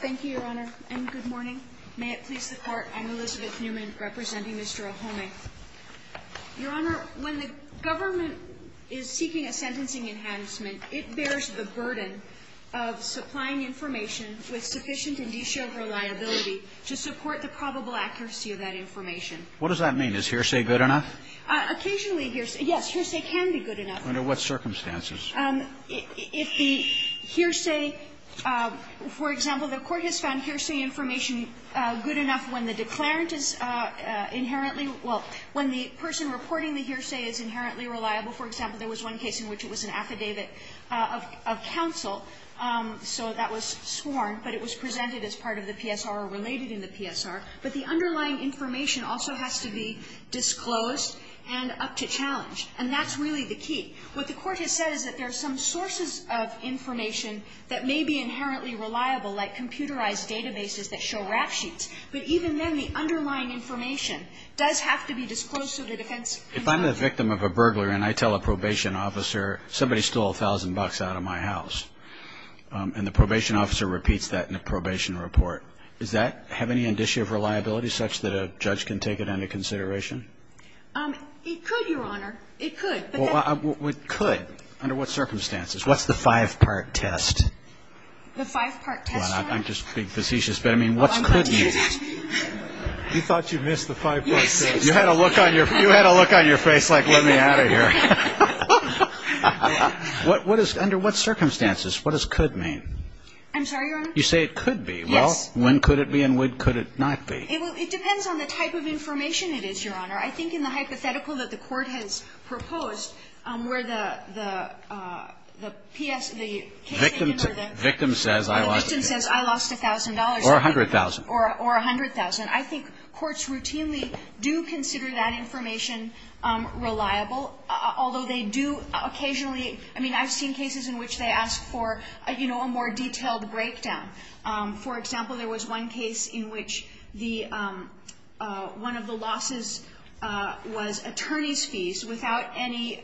Thank you, Your Honor, and good morning. May it please the Court, I'm Elizabeth Newman, representing Mr. Ohonme. Your Honor, when the government is seeking a sentencing enhancement, it bears the burden of supplying information with sufficient and de-showed reliability to support the probable accuracy of that information. What does that mean? Is hearsay good enough? Occasionally hearsay, yes, hearsay can be good enough. Under what circumstances? If the hearsay, for example, the Court has found hearsay information good enough when the declarant is inherently, well, when the person reporting the hearsay is inherently reliable. For example, there was one case in which it was an affidavit of counsel, so that was sworn, but it was presented as part of the PSR or related in the PSR. But the underlying information also has to be disclosed and up to challenge, and that's really the key. What the Court has said is that there are some sources of information that may be inherently reliable, like computerized databases that show rap sheets. But even then, the underlying information does have to be disclosed so the defense can find it. If I'm the victim of a burglar and I tell a probation officer somebody stole a thousand bucks out of my house, and the probation officer repeats that in a probation report, does that have any indicia of reliability such that a judge can take it under consideration? It could, Your Honor. It could. Well, it could. Under what circumstances? What's the five-part test? The five-part test, Your Honor? Well, I'm just being facetious, but I mean, what's could mean? You thought you missed the five-part test. Yes. You had a look on your face like, let me out of here. What is, under what circumstances, what does could mean? I'm sorry, Your Honor? You say it could be. Yes. Well, when could it be and when could it not be? It depends on the type of information it is, Your Honor. I think in the hypothetical that the Court has proposed, where the PS, the case statement or the victim says I lost a thousand dollars. Or a hundred thousand. Or a hundred thousand. I think courts routinely do consider that information reliable, although they do occasionally – I mean, I've seen cases in which they ask for, you know, a more detailed breakdown. For example, there was one case in which the – one of the losses was attorney's fees without any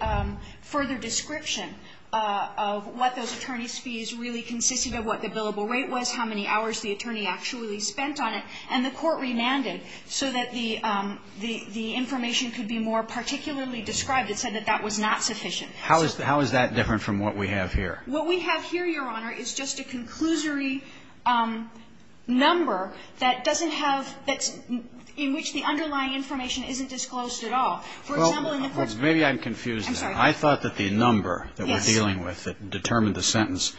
further description of what those attorney's fees really consisted of, what the billable rate was, how many hours the attorney actually spent on it. And the Court remanded so that the information could be more particularly described. It said that that was not sufficient. How is that different from what we have here? What we have here, Your Honor, is just a conclusory number that doesn't have – that's – in which the underlying information isn't disclosed at all. For example, in the first – Well, maybe I'm confused. I'm sorry. I thought that the number that we're dealing with that determined the sentence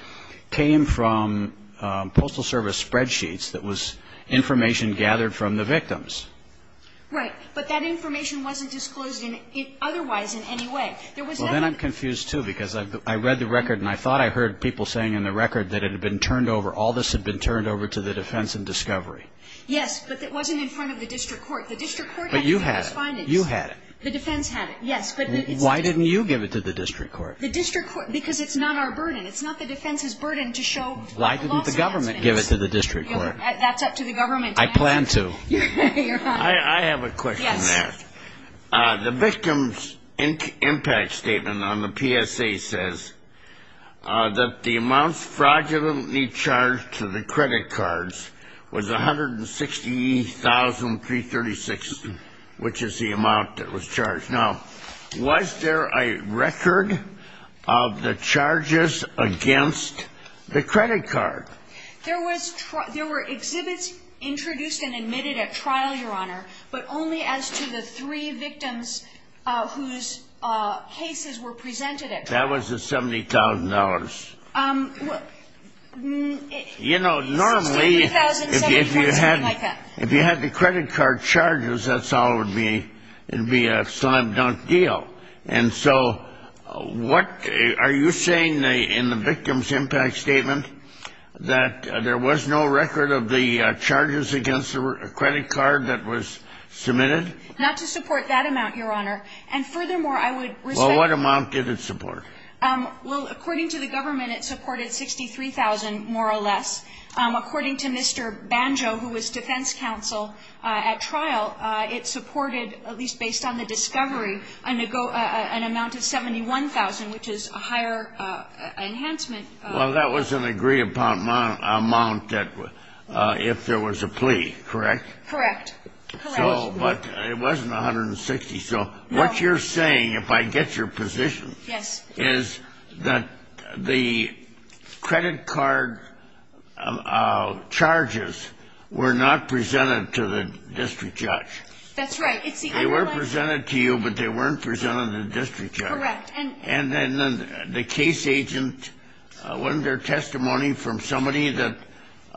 came from postal service spreadsheets that was information gathered from the victims. Right. But that information wasn't disclosed in – otherwise in any way. Well, then I'm confused, too, because I read the record and I thought I heard people saying in the record that it had been turned over – all this had been turned over to the defense in discovery. Yes, but it wasn't in front of the district court. The district court had to do its findings. But you had it. You had it. The defense had it, yes. But it's – Why didn't you give it to the district court? The district court – because it's not our burden. It's not the defense's burden to show – Why didn't the government give it to the district court? That's up to the government to answer. I plan to. Your Honor. I have a question there. Yes. The victim's impact statement on the PSA says that the amounts fraudulently charged to the credit cards was $160,336, which is the amount that was charged. Now, was there a record of the charges against the credit card? There was – there were exhibits introduced and admitted at trial, Your Honor, but only as to the three victims whose cases were presented at trial. That was the $70,000. You know, normally – $60,000, $70,000, something like that. If you had the credit card charges, that's all it would be. It would be a slam-dunk deal. And so what – are you saying in the victim's impact statement that there was no record of the charges against the credit card that was submitted? Not to support that amount, Your Honor. And furthermore, I would respect – Well, what amount did it support? Well, according to the government, it supported $63,000 more or less. According to Mr. Banjo, who was defense counsel at trial, it supported, at least based on the discovery, an amount of $71,000, which is a higher enhancement. Well, that was an agreeable amount that – if there was a plea, correct? Correct. Correct. So – but it wasn't $160,000. No. So what you're saying, if I get your position – Yes. – is that the credit card charges were not presented to the district judge. That's right. It's the underlying – They were presented to you, but they weren't presented to the district judge. Correct. And then the case agent, wasn't there testimony from somebody that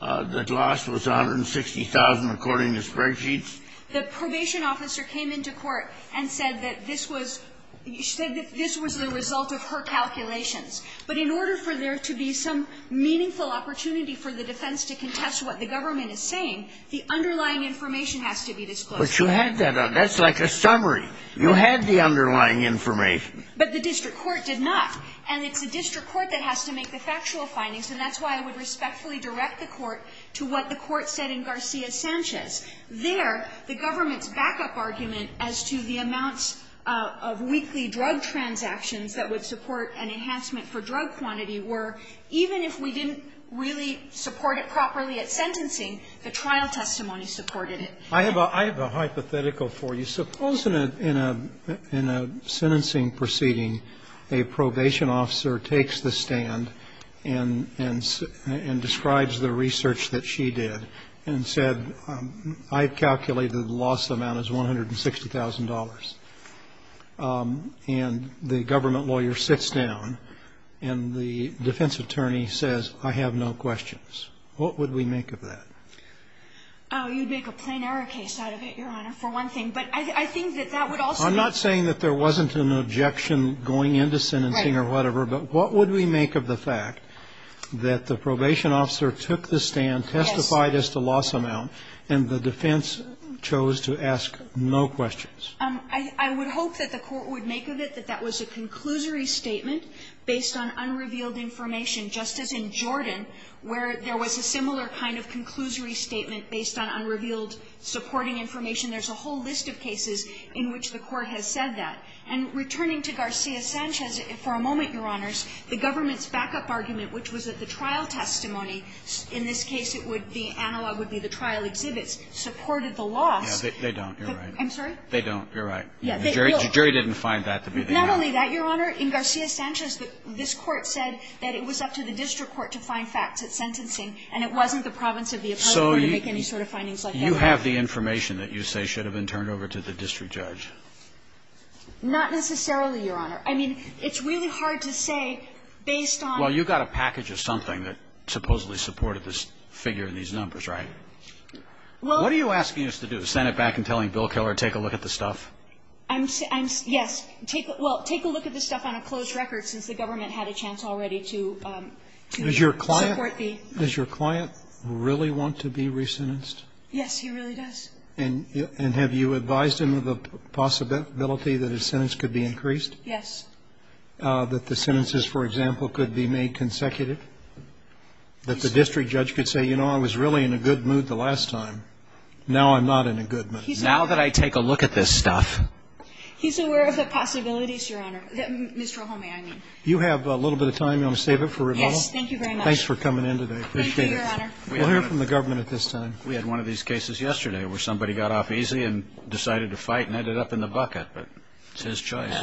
the loss was $160,000, according to spreadsheets? The probation officer came into court and said that this was – she said that this was the result of her calculations. But in order for there to be some meaningful opportunity for the defense to contest what the government is saying, the underlying information has to be disclosed. But you had that. That's like a summary. You had the underlying information. But the district court did not. And it's the district court that has to make the factual findings, and that's why I would respectfully direct the court to what the court said in Garcia-Sanchez. There, the government's backup argument as to the amounts of weekly drug transactions that would support an enhancement for drug quantity were, even if we didn't really support it properly at sentencing, the trial testimony supported it. I have a hypothetical for you. Suppose in a sentencing proceeding, a probation officer takes the stand and describes the research that she did and said, I've calculated the loss amount as $160,000. And the government lawyer sits down and the defense attorney says, I have no questions. What would we make of that? Oh, you'd make a plain error case out of it, Your Honor, for one thing. But I think that that would also be – I'm not saying that there wasn't an objection going into sentencing or whatever. Right. But what would we make of the fact that the probation officer took the stand, testified as to loss amount, and the defense chose to ask no questions? I would hope that the court would make of it that that was a conclusory statement based on unrevealed information, just as in Jordan, where there was a similar kind of conclusory statement based on unrevealed supporting information. There's a whole list of cases in which the court has said that. And returning to Garcia-Sanchez, for a moment, Your Honors, the government's backup argument, which was that the trial testimony – in this case, it would be – analog would be the trial exhibits – supported the loss. Yeah. They don't. You're right. I'm sorry? They don't. You're right. Yeah. The jury didn't find that to be the case. Not only that, Your Honor. In Garcia-Sanchez, this Court said that it was up to the district court to find facts at sentencing, and it wasn't the province of the appellate court to make any sort of findings like that. So you have the information that you say should have been turned over to the district court to judge. Not necessarily, Your Honor. I mean, it's really hard to say based on – Well, you got a package of something that supposedly supported this figure in these numbers, right? Well – What are you asking us to do? Send it back and telling Bill Keller, take a look at the stuff? I'm – yes. Take – well, take a look at the stuff on a closed record, since the government had a chance already to support the – Does your client really want to be re-sentenced? Yes, he really does. And have you advised him of the possibility that his sentence could be increased? Yes. That the sentences, for example, could be made consecutive? That the district judge could say, you know, I was really in a good mood the last time. Now I'm not in a good mood. Now that I take a look at this stuff – He's aware of the possibilities, Your Honor. Mr. O'Holmey, I mean. You have a little bit of time. You want to save it for rebuttal? Yes. Thank you very much. Thanks for coming in today. I appreciate it. Thank you, Your Honor. We'll hear from the government at this time. We had one of these cases yesterday where somebody got off easy and decided to fight and ended up in the bucket. But it's his choice.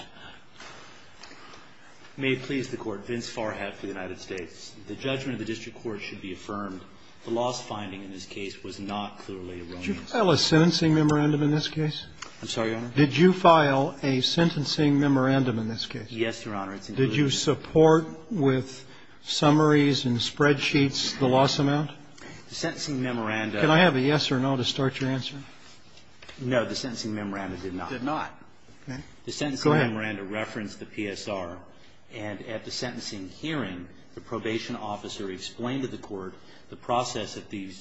May it please the Court. Vince Farhat for the United States. The judgment of the district court should be affirmed. The loss finding in this case was not clearly erroneous. Did you file a sentencing memorandum in this case? I'm sorry, Your Honor? Did you file a sentencing memorandum in this case? Yes, Your Honor. It's included in the memorandum. Did you support with summaries and spreadsheets the loss amount? The sentencing memorandum. Can I have a yes or no to start your answer? No. The sentencing memorandum did not. Did not. Go ahead. The sentencing memorandum referenced the PSR, and at the sentencing hearing, the probation officer explained to the court the process that the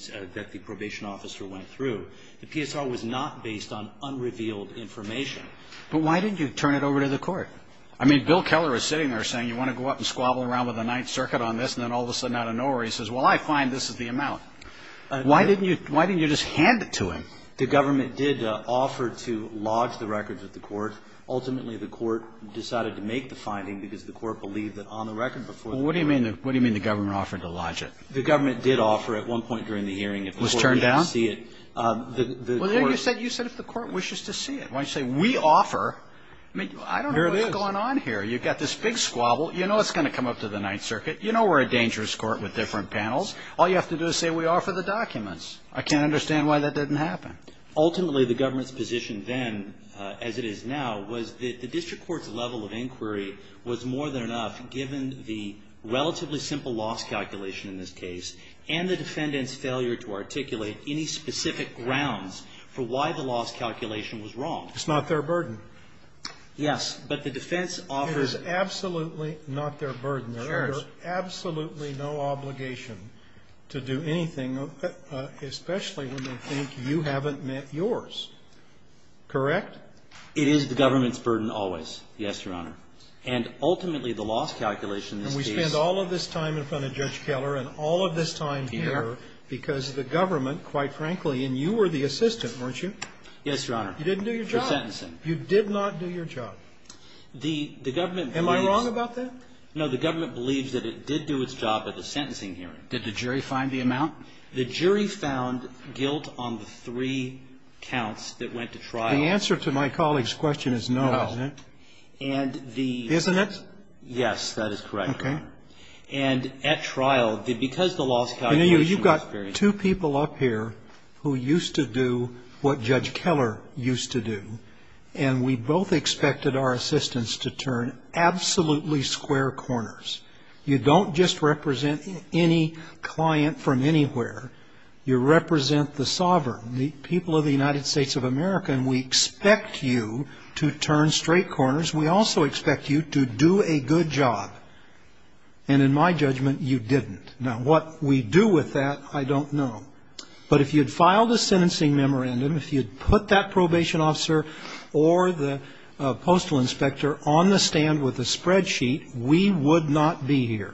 probation officer went through. The PSR was not based on unrevealed information. But why didn't you turn it over to the court? I mean, Bill Keller is sitting there saying, you want to go out and squabble around with the Ninth Circuit on this, and then all of a sudden out of nowhere he says, well, I find this is the amount. Why didn't you just hand it to him? The government did offer to lodge the records with the court. Ultimately, the court decided to make the finding because the court believed that on the record before the court. What do you mean the government offered to lodge it? The government did offer at one point during the hearing if the court didn't see it. Was turned down? Well, you said if the court wishes to see it. When you say we offer, I mean, I don't know what's going on here. Here it is. You've got this big squabble. You know it's going to come up to the Ninth Circuit. You know we're a dangerous court with different panels. All you have to do is say we offer the documents. I can't understand why that didn't happen. Ultimately, the government's position then, as it is now, was that the district court's level of inquiry was more than enough given the relatively simple loss calculation in this case and the defendant's failure to articulate any specific grounds for why the loss calculation was wrong. It's not their burden. Yes. But the defense offered. It is absolutely not their burden. There is absolutely no obligation to do anything, especially when they think you haven't met yours. Correct? It is the government's burden always. Yes, Your Honor. And ultimately, the loss calculation in this case. And we spent all of this time in front of Judge Keller and all of this time here because the government, quite frankly, and you were the assistant, weren't you? Yes, Your Honor. You didn't do your job. For sentencing. You did not do your job. The government believes. Am I wrong about that? No, the government believes that it did do its job at the sentencing hearing. Did the jury find the amount? The jury found guilt on the three counts that went to trial. The answer to my colleague's question is no, isn't it? No. And the. Isn't it? Yes, that is correct. Okay. And at trial, because the loss calculation. You know, you've got two people up here who used to do what Judge Keller used to do, and we both expected our assistants to turn absolutely square corners. You don't just represent any client from anywhere. You represent the sovereign, the people of the United States of America, and we expect you to turn straight corners. We also expect you to do a good job. And in my judgment, you didn't. Now, what we do with that, I don't know. But if you'd filed a sentencing memorandum, if you'd put that probation officer or the postal inspector on the stand with a spreadsheet, we would not be here.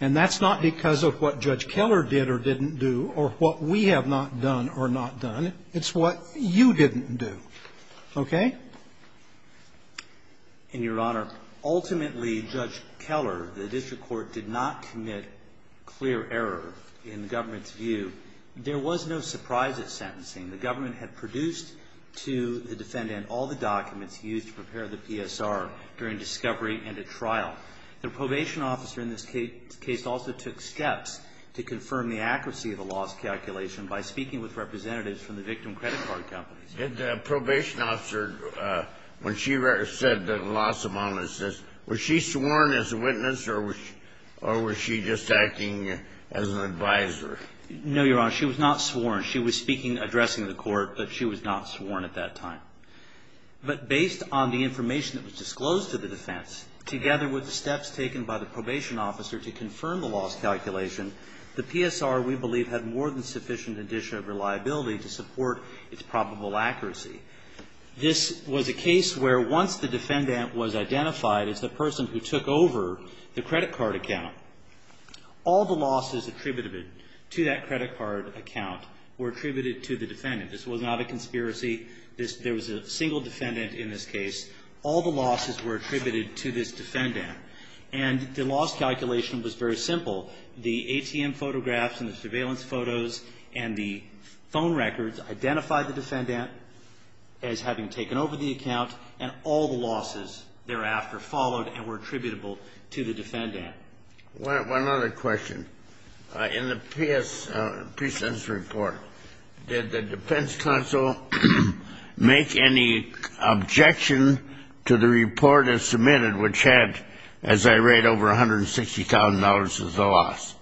And that's not because of what Judge Keller did or didn't do or what we have not done or not done. It's what you didn't do. Okay? And, Your Honor, ultimately, Judge Keller, the district court did not commit clear error in the government's view. There was no surprise at sentencing. The government had produced to the defendant all the documents used to prepare the PSR during discovery and at trial. The probation officer in this case also took steps to confirm the accuracy of the loss calculation by speaking with representatives from the victim credit card companies. Did the probation officer, when she said the loss amount was this, was she sworn as a witness or was she just acting as an advisor? No, Your Honor. She was not sworn. She was speaking, addressing the court, but she was not sworn at that time. But based on the information that was disclosed to the defense, together with the steps taken by the probation officer to confirm the loss calculation, the PSR, we believe, had more than sufficient indicia of reliability to support its probable accuracy. This was a case where once the defendant was identified as the person who took over the credit card account, all the losses attributed to that credit card account were attributed to the defendant. This was not a conspiracy. There was a single defendant in this case. All the losses were attributed to this defendant. And the loss calculation was very simple. The ATM photographs and the surveillance photos and the phone records identified the defendant as having taken over the account, and all the losses thereafter followed and were attributable to the defendant. One other question. In the PSS report, did the defense counsel make any objection to the report as submitted, which had, as I read, over $160,000 as the loss?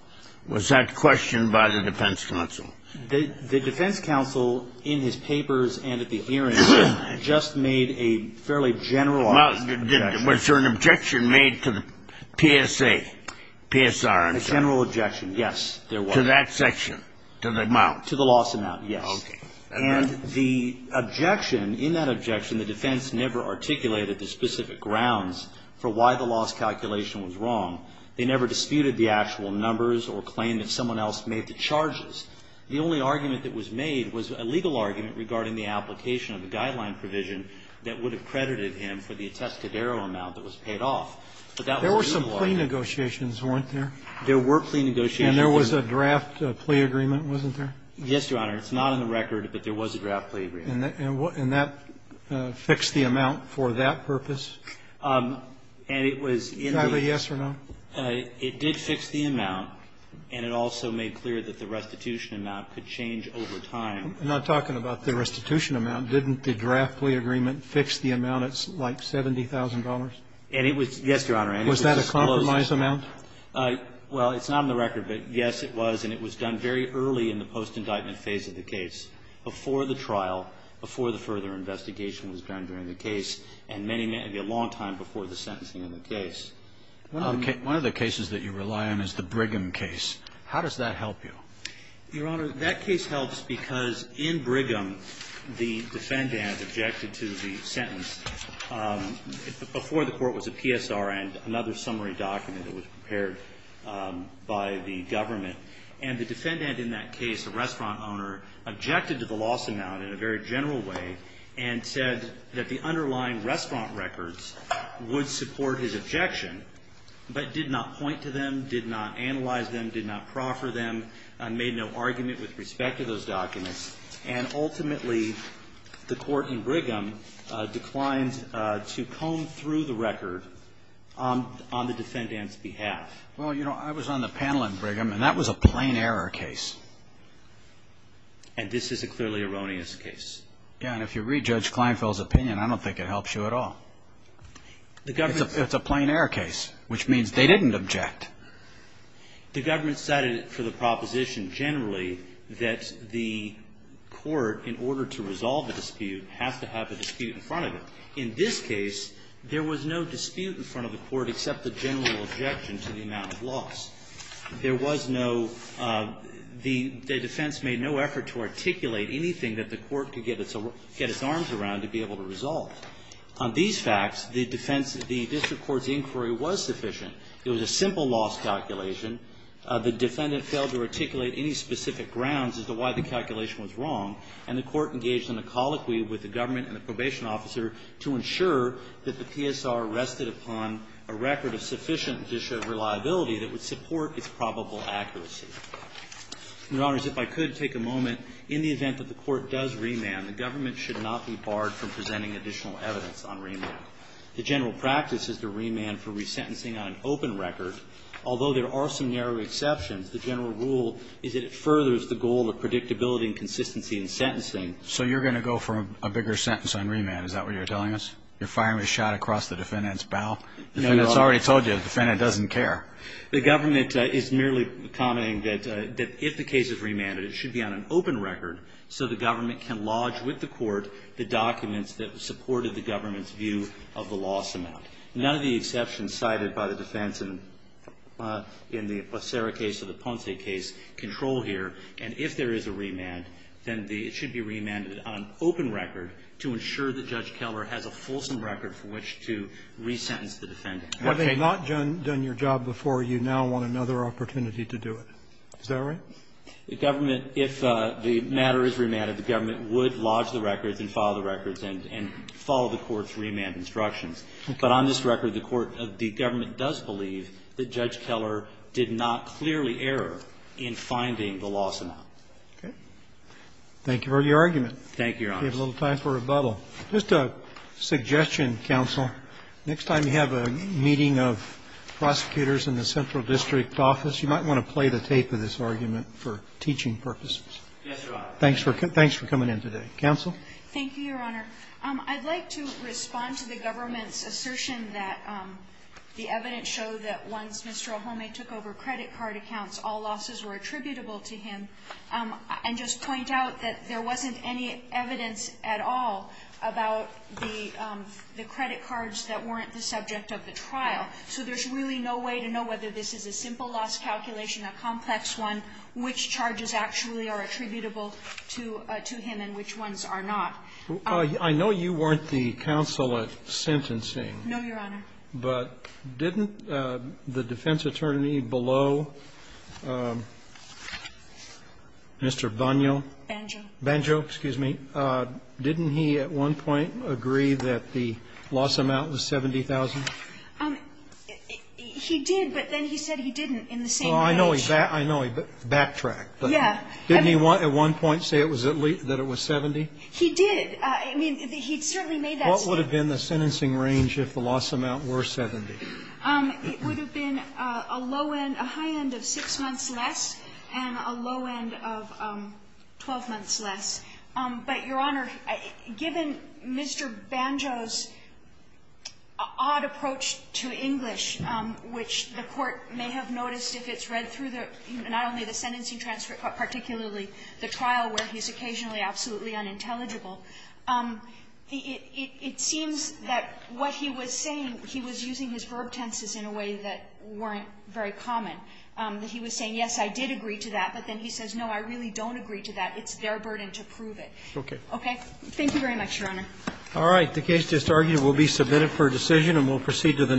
Was that questioned by the defense counsel? The defense counsel, in his papers and at the hearings, just made a fairly general objection. Was there an objection made to the PSA, PSR? A general objection, yes, there was. To that section, to the amount? To the loss amount, yes. Okay. And the objection, in that objection, the defense never articulated the specific grounds for why the loss calculation was wrong. They never disputed the actual numbers or claimed that someone else made the charges. The only argument that was made was a legal argument regarding the application of a guideline provision that would have credited him for the atescadero amount that was paid off. But that was a legal argument. There were some plea negotiations, weren't there? There were plea negotiations. And there was a draft plea agreement, wasn't there? Yes, Your Honor. It's not on the record, but there was a draft plea agreement. And that fixed the amount for that purpose? And it was in the ---- Did it have a yes or no? It did fix the amount, and it also made clear that the restitution amount could change over time. I'm not talking about the restitution amount. Didn't the draft plea agreement fix the amount at, like, $70,000? And it was, yes, Your Honor. Was that a compromise amount? Well, it's not on the record, but, yes, it was. And it was done very early in the post-indictment phase of the case, before the trial, before the further investigation was done during the case, and many ---- a long time before the sentencing of the case. One of the cases that you rely on is the Brigham case. How does that help you? Your Honor, that case helps because in Brigham, the defendant objected to the sentence before the court was a PSR and another summary document that was prepared by the government. And the defendant in that case, a restaurant owner, objected to the loss amount in a very general way and said that the underlying restaurant records would support his objection, but did not point to them, did not analyze them, did not proffer them, made no argument with respect to those documents. And ultimately, the court in Brigham declined to comb through the record on the defendant's behalf. Well, you know, I was on the panel in Brigham, and that was a plain error case. And this is a clearly erroneous case. Yes, and if you re-judge Kleinfeld's opinion, I don't think it helps you at all. The government ---- It's a plain error case, which means they didn't object. The government cited it for the proposition generally that the court, in order to resolve the dispute, has to have a dispute in front of it. In this case, there was no dispute in front of the court except the general objection to the amount of loss. There was no ---- the defense made no effort to articulate anything that the court could get its arms around to be able to resolve. On these facts, the defense, the district court's inquiry was sufficient. It was a simple loss calculation. The defendant failed to articulate any specific grounds as to why the calculation was wrong, and the court engaged in a colloquy with the government and the probation officer to ensure that the PSR rested upon a record of sufficient judicial reliability that would support its probable accuracy. Your Honors, if I could take a moment. In the event that the court does remand, the government should not be barred from presenting additional evidence on remand. The general practice is to remand for resentencing on an open record. Although there are some narrow exceptions, the general rule is that it furthers the goal of predictability and consistency in sentencing. So you're going to go for a bigger sentence on remand? Is that what you're telling us? You're firing a shot across the defendant's bowel? No, Your Honor. The defendant's already told you. The defendant doesn't care. The government is merely commenting that if the case is remanded, it should be on an open record so the government can lodge with the court the documents that supported the government's view of the loss amount. None of the exceptions cited by the defense in the Becerra case or the Ponce case control here. And if there is a remand, then it should be remanded on an open record to ensure that Judge Keller has a fulsome record for which to resentence the defendant. But they've not done your job before. You now want another opportunity to do it. Is that right? The government, if the matter is remanded, the government would lodge the records and file the records and follow the court's remand instructions. But on this record, the court of the government does believe that Judge Keller did not clearly err in finding the loss amount. Okay. Thank you for your argument. Thank you, Your Honor. We have a little time for rebuttal. Just a suggestion, counsel. Next time you have a meeting of prosecutors in the central district office, you might want to play the tape of this argument for teaching purposes. Yes, Your Honor. Thanks for coming in today. Counsel? Thank you, Your Honor. I'd like to respond to the government's assertion that the evidence showed that when Mr. Ohome took over credit card accounts, all losses were attributable to him, and just point out that there wasn't any evidence at all about the credit cards that weren't the subject of the trial. So there's really no way to know whether this is a simple loss calculation, a complex one, which charges actually are attributable to him and which ones are not. I know you weren't the counsel at sentencing. No, Your Honor. But didn't the defense attorney below Mr. Bonneau? Banjo. Banjo, excuse me. Didn't he at one point agree that the loss amount was $70,000? He did, but then he said he didn't in the same range. Oh, I know he backtracked. Yeah. Didn't he at one point say that it was $70,000? He did. I mean, he certainly made that statement. What would have been the sentencing range if the loss amount were $70,000? It would have been a low end, a high end of 6 months less and a low end of 12 months less. But, Your Honor, given Mr. Banjo's odd approach to English, which the Court may have noticed if it's read through the not only the sentencing transcript, but particularly the trial where he's occasionally absolutely unintelligible, it seems that what he was saying, he was using his verb tenses in a way that weren't very common. He was saying, yes, I did agree to that. But then he says, no, I really don't agree to that. It's their burden to prove it. Okay. Okay? Thank you very much, Your Honor. All right. The case just argued will be submitted for decision, and we'll proceed to the next